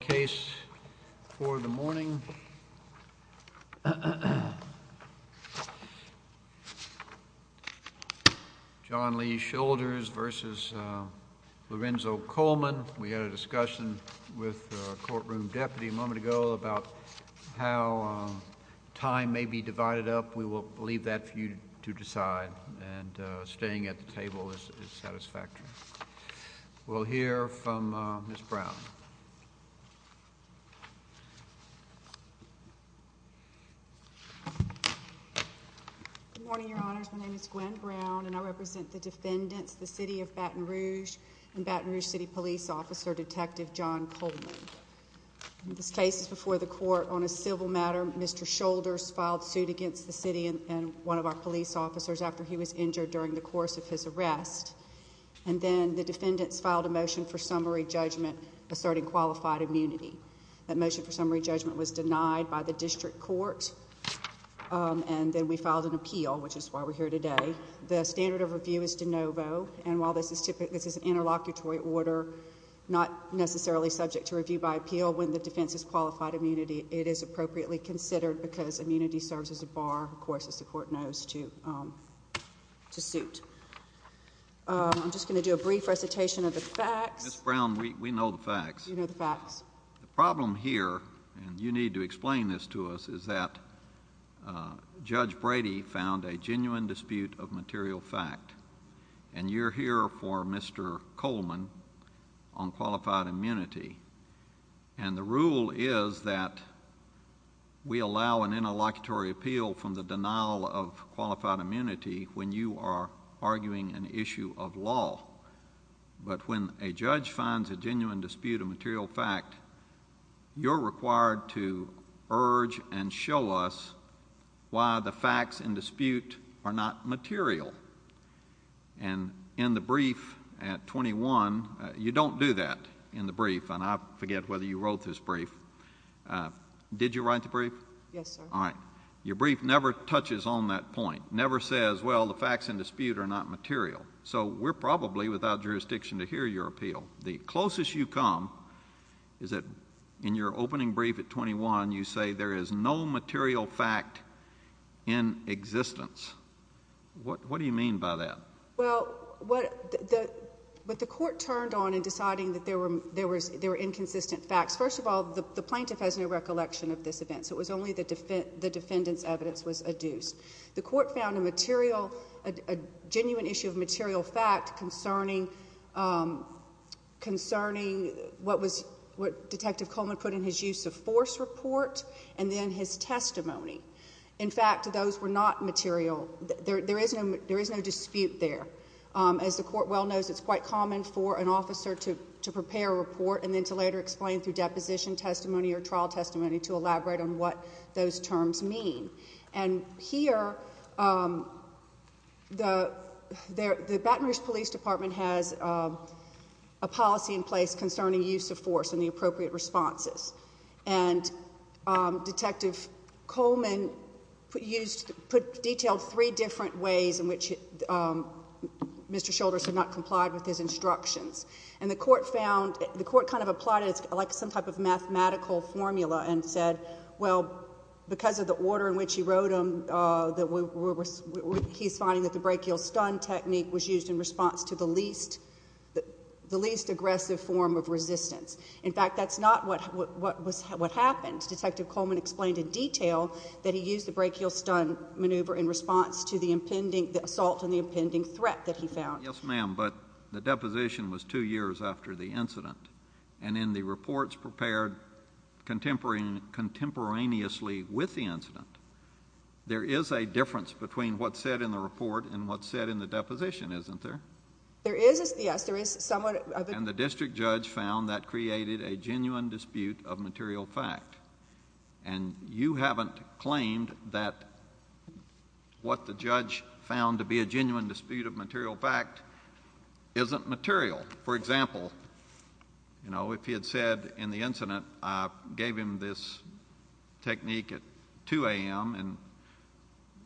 case for the morning. John Lee Shoulders versus Lorenzo Coleman. We had a discussion with courtroom deputy a moment ago about how time may be divided up. We will leave that for you to decide. And staying at the table is satisfactory. We'll hear from Miss Brown. Good morning, Your Honors. My name is Gwen Brown, and I represent the defendants, the city of Baton Rouge and Baton Rouge City Police Officer Detective John Coleman. This case is before the court on a civil matter. Mr Shoulders filed suit against the city and one of our police officers after he was injured during the course of his arrest. And then the defendants filed a motion for summary judgment was denied by the district court. Um, and then we filed an appeal, which is why we're here today. The standard of review is de novo. And while this is typically this is an interlocutory order, not necessarily subject to review by appeal. When the defense is qualified immunity, it is appropriately considered because immunity serves as a bar, of course, as the court knows to, um, to suit. I'm just gonna do a brief recitation of the facts. Brown. We know the facts. You know the facts. The problem here, and you need to explain this to us, is that Judge Brady found a genuine dispute of material fact. And you're here for Mr Coleman on qualified immunity. And the rule is that we allow an interlocutory appeal from the but when a judge finds a genuine dispute of material fact, you're required to urge and show us why the facts in dispute are not material. And in the brief at 21, you don't do that in the brief. And I forget whether you wrote this brief. Uh, did you write the brief? Yes. All right. Your brief never touches on that point. Never says, Well, the facts in dispute are not material facts. And I don't think it's a matter of jurisdiction to hear your appeal. The closest you come is that in your opening brief at 21, you say there is no material fact in existence. What? What do you mean by that? Well, what? The but the court turned on and deciding that there were there was there inconsistent facts. First of all, the plaintiff has no recollection of this event. So it was only the defense. The defendant's evidence was adduced. The court found a material, a genuine issue of material fact concerning, um, concerning what was what Detective Coleman put in his use of force report and then his testimony. In fact, those were not material. There is no, there is no dispute there. Um, as the court well knows, it's quite common for an officer to prepare a report and then to later explain through deposition testimony or trial testimony to elaborate on what those terms mean. And here, um, the the Baton Rouge Police Department has, um, a policy in place concerning use of force and the appropriate responses. And, um, Detective Coleman used put detailed three different ways in which, um, Mr Shoulders had not complied with his instructions. And the court found the court kind of applied. It's like some type of mathematical formula and said, well, because of the order in which he wrote him that we were, he's finding that the break you'll stun technique was used in response to the least, the least aggressive form of resistance. In fact, that's not what what was what happened. Detective Coleman explained in detail that he used the break you'll stun maneuver in response to the impending assault and the impending threat that he found. Yes, ma'am. But the deposition was two years after the incident. And the court found that there is a difference between what's said in the report and what's said in the deposition, isn't there? There is. Yes, there is. Someone in the district judge found that created a genuine dispute of material fact. And you haven't claimed that what the judge found to be a genuine dispute of material fact isn't material. For he had said in the incident gave him this technique at two a.m. And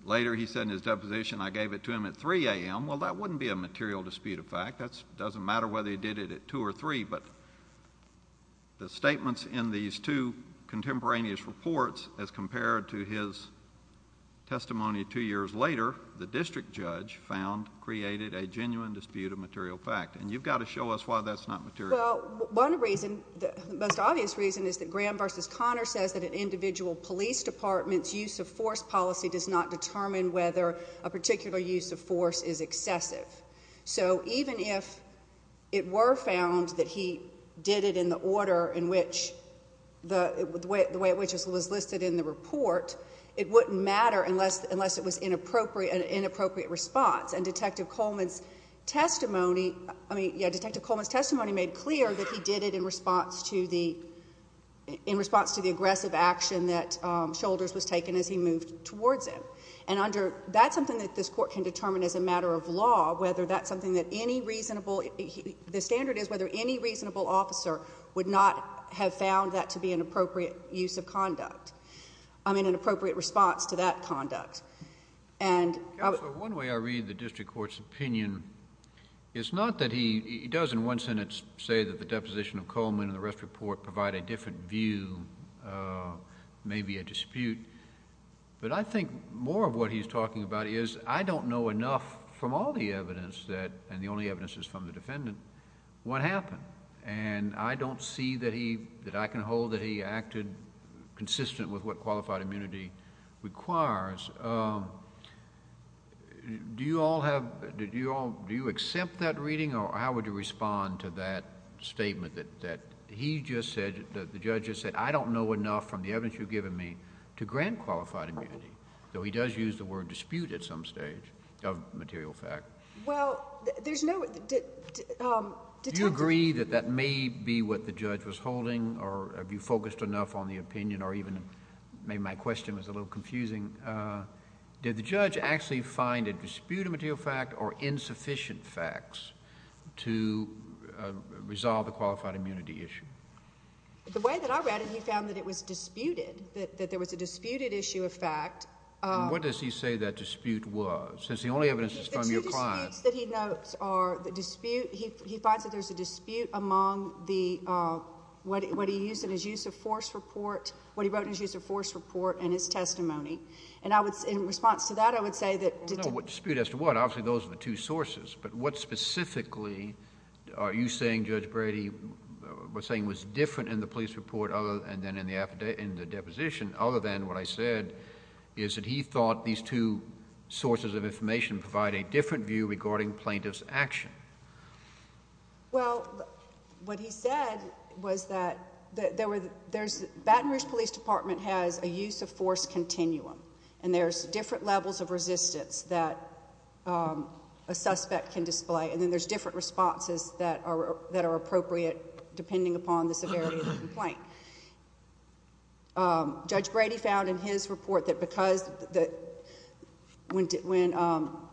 later, he said in his deposition, I gave it to him at three a.m. Well, that wouldn't be a material dispute of fact. That's doesn't matter whether he did it at two or three. But the statements in these two contemporaneous reports, as compared to his testimony two years later, the district judge found created a genuine dispute of material fact. And you've got to show us why that's not material. Well, one reason the most obvious reason is that Graham versus Connor says that an individual police department's use of force policy does not determine whether a particular use of force is excessive. So even if it were found that he did it in the order in which the way which was listed in the report, it wouldn't matter unless unless it was inappropriate, inappropriate response. And Detective Coleman's testimony. I mean, Detective Coleman's testimony made clear that he did it in response to the in response to the aggressive action that shoulders was taken as he moved towards it. And under that's something that this court can determine as a matter of law, whether that's something that any reasonable the standard is whether any reasonable officer would not have found that to be an appropriate use of conduct. I'm in an appropriate response to that conduct. And one way I read the one sentence say that the deposition of Coleman and the rest report provide a different view, maybe a dispute. But I think more of what he's talking about is I don't know enough from all the evidence that and the only evidence is from the defendant. What happened? And I don't see that he that I can hold that he acted consistent with what qualified immunity requires. Do you all have did you all do you accept that reading or how would you respond to that statement that that he just said that the judge has said I don't know enough from the evidence you've given me to grant qualified immunity, though he does use the word dispute at some stage of material fact. Well, there's no did you agree that that may be what the judge was holding or have you focused enough on the opinion or even maybe my question was a little confusing. Did the judge actually find a disputed material fact or insufficient facts to resolve the qualified immunity issue? The way that I read it, he found that it was disputed that there was a disputed issue of fact. What does he say that dispute was since the only evidence is from your client that he notes are the dispute. He finds that there's a dispute among the what he used in his use of force report, what he wrote in his use of force report and his testimony. And I would in response to that, I would say that what dispute as to what obviously those are the two sources. But what specifically are you saying Judge Brady was saying was different in the police report other and then in the affidavit in the deposition other than what I said is that he thought these two sources of information provide a different view regarding plaintiffs action. Well, what he said was that there were there's Baton Rouge Police Department has a use of force continuum. And there's different levels of resistance that a suspect can display. And then there's different responses that are that are appropriate depending upon the severity of the complaint. Judge Brady found in his report that because that when when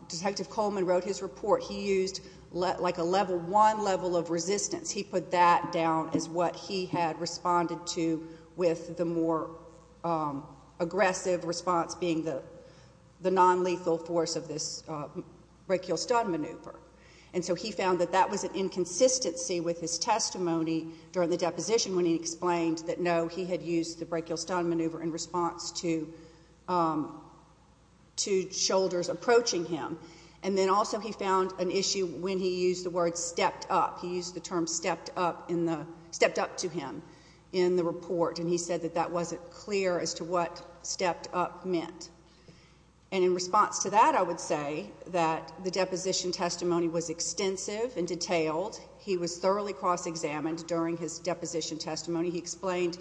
Detective Coleman wrote his report, he used like a level one level of resistance. He put that down is what he had responded to with the more, um, aggressive response being the non lethal force of this break. You'll start maneuver. And so he found that that was an inconsistency with his testimony during the deposition when he explained that no, he had used the break you'll start maneuver in response to, um, to shoulders approaching him. And then also he found an issue when he used the word stepped up. He used the term stepped up in the stepped up to him in the report. And he said that that wasn't clear as to what stepped up meant. And in response to that, I would say that the deposition testimony was extensive and detailed. He was thoroughly cross examined during his deposition testimony. He explained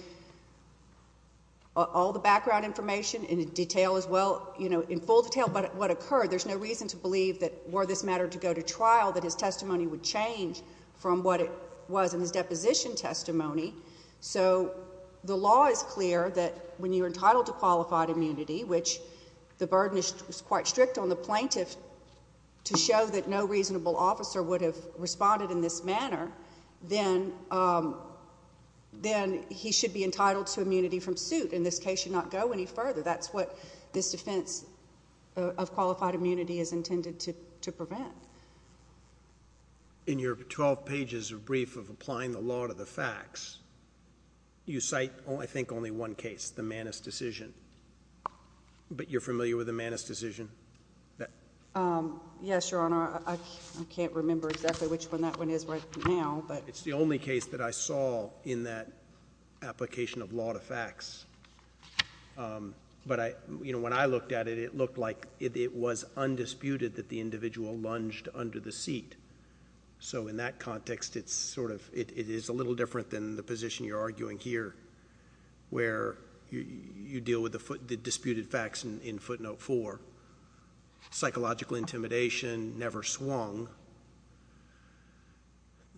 all the background information in detail as well, you know, in full detail. But what occurred? There's no reason to believe that were this matter to go to testimony. So the law is clear that when you're entitled to qualified immunity, which the burden is quite strict on the plaintiff to show that no reasonable officer would have responded in this manner, then, um, then he should be entitled to immunity from suit. In this case, should not go any further. That's what this defense of qualified immunity is intended to prevent in your 12 pages of brief of applying the law to the facts, you cite, I think only one case, the Manus decision. But you're familiar with the Manus decision? Um, yes, Your Honor. I can't remember exactly which one that one is right now, but it's the only case that I saw in that application of lot of facts. Um, but I, you know, when I look at the case, I see that the defendant was charged under the seat. So in that context, it's sort of, it is a little different than the position you're arguing here where you deal with the disputed facts in footnote four. Psychological intimidation never swung.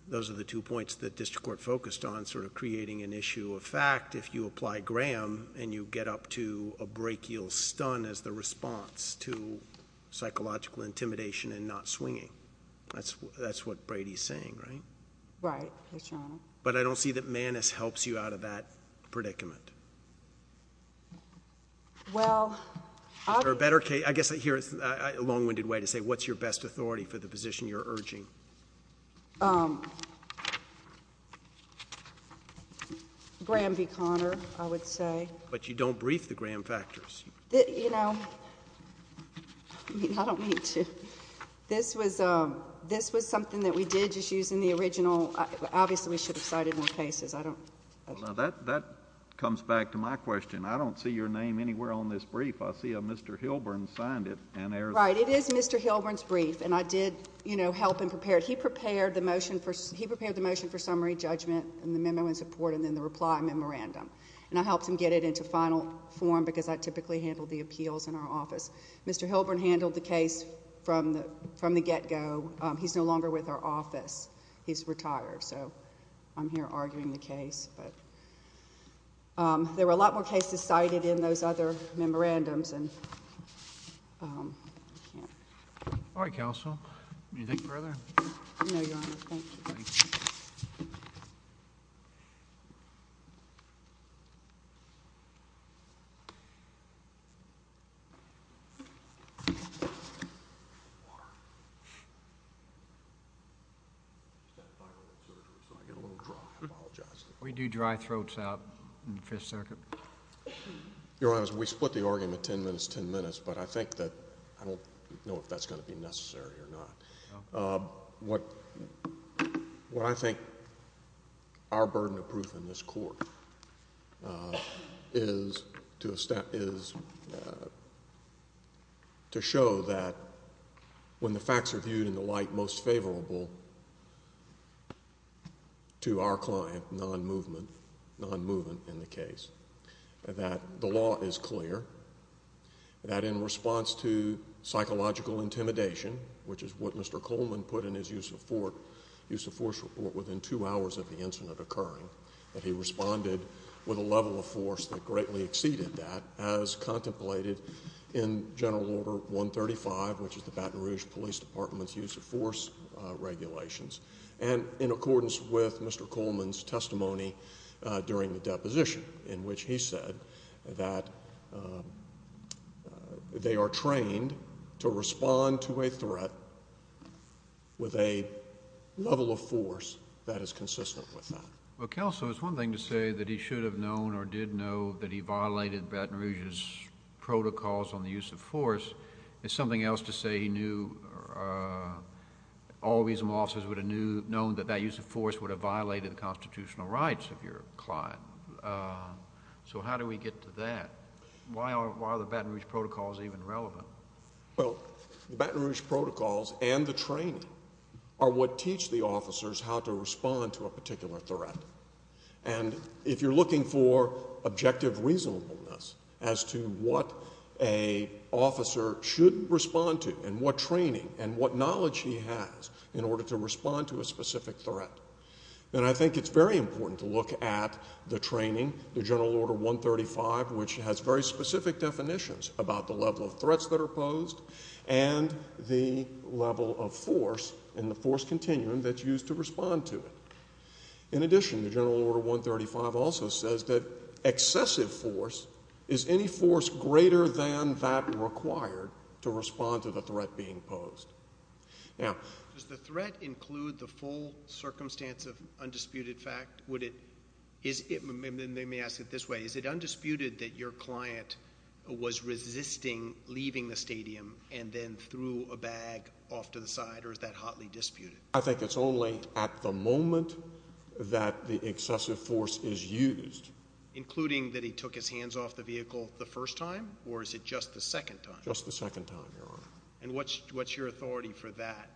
Those are the two points that district court focused on sort of creating an issue of fact. If you apply Graham and you get up to a brachial stun as the response to psychological intimidation and not swinging, that's that's what Brady's saying, right? Right. But I don't see that Manus helps you out of that predicament. Well, there are better case. I guess here's a long winded way to say what's your best authority for the position you're urging? Um, Graham v. Connor, I would say. But you don't brief the Graham factors. You know, I don't mean to. This was this was something that we did just using the original. Obviously, we should have cited more cases. I don't know that. That comes back to my question. I don't see your name anywhere on this brief. I see a Mr Hilburn signed it and right. It is Mr Hilburn's brief. And I did, you know, help and prepared. He prepared the motion for he prepared the motion for summary judgment and the memo in support and then the reply memorandum. And I helped him get it into final form because I typically handled the appeals in our office. Mr Hilburn handled the case from the from the get go. He's no longer with our office. He's retired. So I'm here arguing the case. But um, there were a lot more cases cited in those other memorandums and um, all right, Council. Anything further? Yeah. We do dry throats out in the fifth circuit. You're honest. We split the argument 10 minutes, 10 minutes. But I think that I don't know if that's gonna be necessary or not. Um, what? What I think our burden of proof in this court uh, is to step is to show that when the facts are viewed in the light most favorable to our client, non movement, non movement in the case that the law is clear that in response to psychological intimidation, which is what Mr Coleman put in his use of Fort use of force report within two hours of the incident occurring, that he responded with a level of force that greatly exceeded that, as contemplated in General Order 1 35, which is the Baton Rouge Police Department's use of force regulations. And in accordance with Mr Coleman's testimony during the deposition in which he said that they are trained to respond to a threat with a level of force that is consistent with well, council is one thing to say that he should have known or did know that he violated Baton Rouge's protocols on the use of force. It's something else to say he knew, uh, all reasonable officers would have knew known that that use of force would have violated the constitutional rights of your client. Uh, so how do we get to that? Why are why the Baton Rouge protocols even relevant? Well, the Baton Rouge protocols and the training are what teach the officers how to respond to a particular threat. And if you're looking for objective reasonableness as to what a officer shouldn't respond to and what training and what knowledge he has in order to respond to a specific threat. And I think it's very important to look at the training. The General Order 1 35, which has very specific definitions about the level of used to respond to it. In addition, the General Order 1 35 also says that excessive force is any force greater than that required to respond to the threat being posed. Now, does the threat include the full circumstance of undisputed fact? Would it is it? They may ask it this way. Is it undisputed that your client was resisting leaving the stadium and then threw a bag off to the side? Or is that hotly disputed? I think it's only at the moment that the excessive force is used, including that he took his hands off the vehicle the first time. Or is it just the second time? Just the second time. And what's what's your authority for that?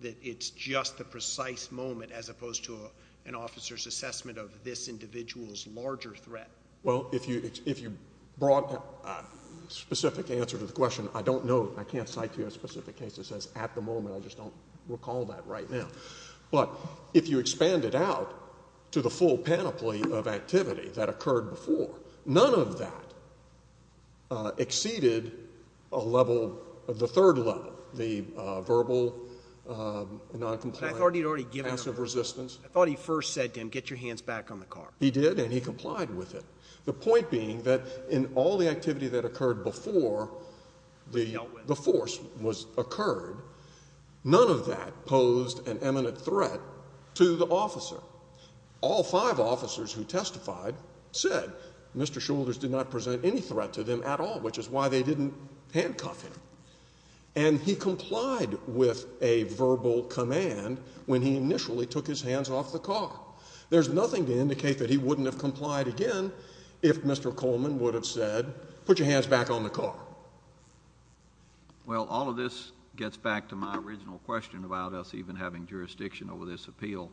That it's just the precise moment, as opposed to an officer's assessment of this individual's larger threat? Well, if you if you brought specific answer to the question, I don't know. I can't cite to you a specific case that says at the moment. I just don't recall that right now. But if you expand it out to the full panoply of activity that occurred before, none of that exceeded a level of the third level, the verbal noncompliant, passive resistance. I thought he first said to him, get your hands back on the car. He did, and he complied with it. The point being that in all the activity that occurred before the force was occurred, none of that posed an eminent threat to the officer. All five officers who testified said Mr. Shoulders did not present any threat to them at all, which is why they didn't handcuff him. And he complied with a verbal command when he initially took his hands off the car. There's nothing to indicate that he wouldn't have complied again if Mr. Coleman would have said, put your hands back on the car. Well, all of this gets back to my original question about us even having jurisdiction over this appeal.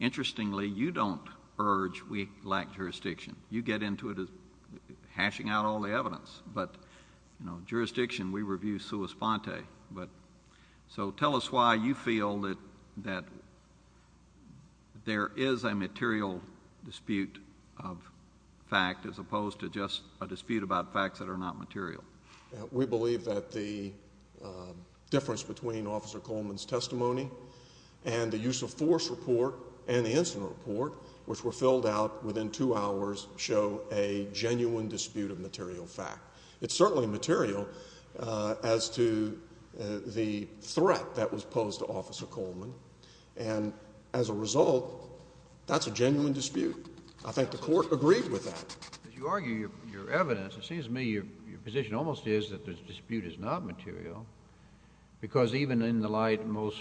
Interestingly, you don't urge we lack jurisdiction. You get into it as hashing out all the evidence. But, you know, jurisdiction, we review sua sponte. So tell us why you feel that there is a fact as opposed to just a dispute about facts that are not material. We believe that the difference between Officer Coleman's testimony and the use of force report and the incident report, which were filled out within two hours, show a genuine dispute of material fact. It's certainly material as to the threat that was posed to Officer Coleman. And as a result, that's a genuine dispute. I agree with that. As you argue your evidence, it seems to me your position almost is that the dispute is not material because even in the light most,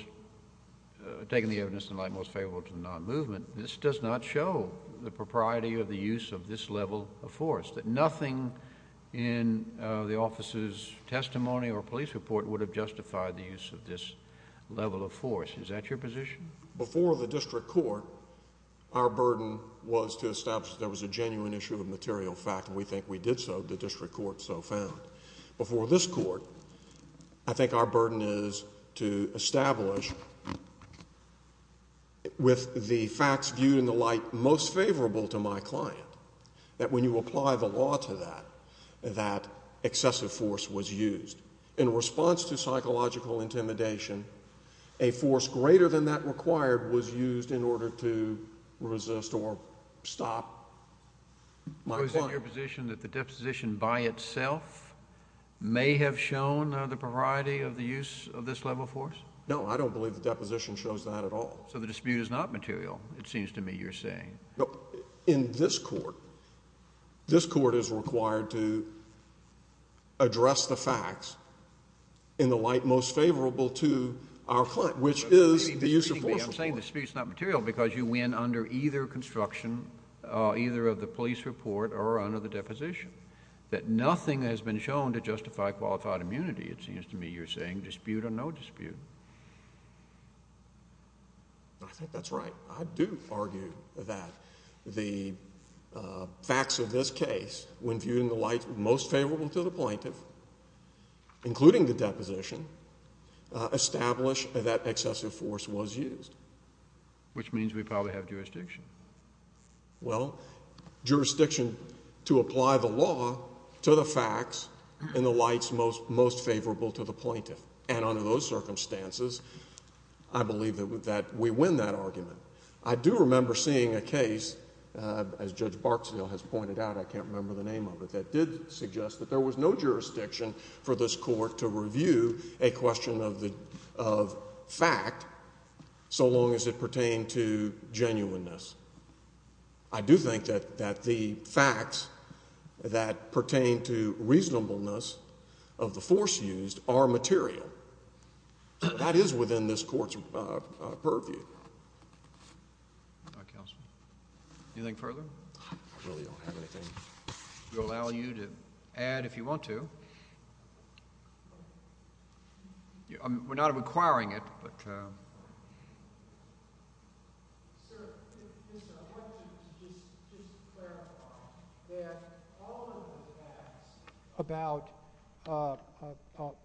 taking the evidence in light most favorable to the non-movement, this does not show the propriety of the use of this level of force. That nothing in the office's testimony or police report would have justified the use of this level of force. Is that your position? Before the District Court, our burden was to establish that there was a genuine issue of material fact, and we think we did so. The District Court so found. Before this Court, I think our burden is to establish with the facts viewed in the light most favorable to my client that when you apply the law to that, that excessive force was used. In response to psychological intimidation, a force greater than that required was used in order to stop my client. Is it your position that the deposition by itself may have shown the propriety of the use of this level of force? No, I don't believe the deposition shows that at all. So the dispute is not material, it seems to me you're saying. No, in this Court, this Court is required to address the facts in the light most favorable to our client, which is the use of force. I'm saying the dispute is not material because you win under either construction, either of the police report or under the deposition. That nothing has been shown to justify qualified immunity, it seems to me you're saying, dispute or no dispute. I think that's right. I do argue that the facts of this case, when viewed in the light most favorable to the plaintiff, including the deposition, establish that excessive force was used. Which means we probably have jurisdiction. Well, jurisdiction to apply the law to the facts in the lights most favorable to the plaintiff. And under those circumstances, I believe that we win that argument. I do remember seeing a case, as Judge Barksdale has pointed out, I can't remember the name of it, that did suggest that there was no jurisdiction for this Court to review a law as long as it pertained to genuineness. I do think that that the facts that pertain to reasonableness of the force used are material. That is within this Court's purview. Anything further? I really don't have anything. I'll allow you to add if you want to. We're not requiring it, but.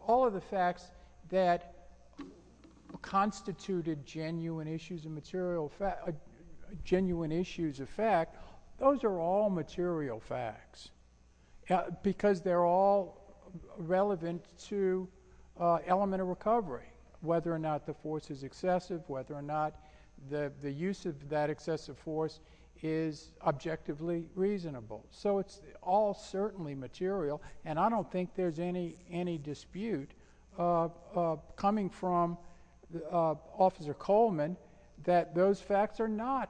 All of the facts that constituted genuine issues of material fact, genuine issues of fact, those are all material facts. Yeah, because they're all relevant to element of recovery, whether or not the force is excessive, whether or not the use of that excessive force is objectively reasonable. So it's all certainly material, and I don't think there's any dispute coming from Officer Coleman that those facts are not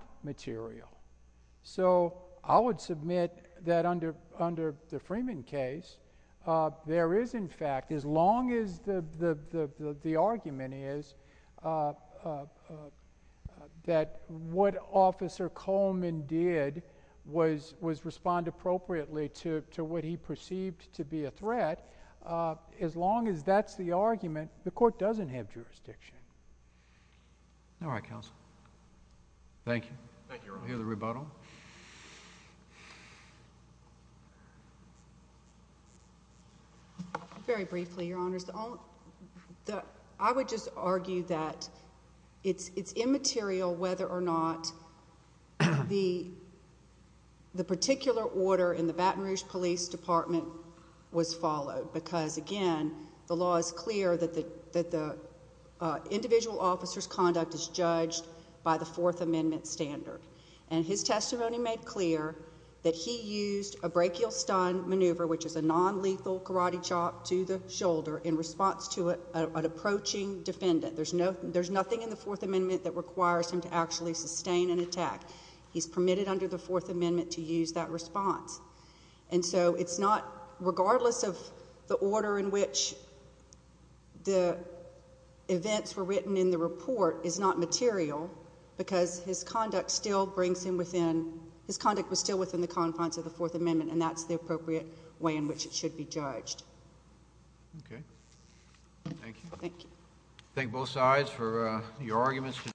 There is, in fact, as long as the argument is that what Officer Coleman did was respond appropriately to what he perceived to be a threat, as long as that's the argument, the Court doesn't have jurisdiction. All right, counsel. Thank you. I hear the rebuttal. Very briefly, Your Honors, I would just argue that it's immaterial whether or not the particular order in the Baton Rouge Police Department was followed because, again, the law is clear that the individual officer's conduct is judged by the Fourth Amendment standard, and his testimony made clear that he used a brachial stun maneuver, which is a nonlethal karate chop to the shoulder in response to an approaching defendant. There's nothing in the Fourth Amendment that requires him to actually sustain an attack. He's permitted under the Fourth Amendment to use that response. And so it's not, regardless of the order in which the events were written in the his conduct was still within the confines of the Fourth Amendment, and that's the appropriate way in which it should be judged. Okay. Thank you. Thank you. Thank both sides for your arguments.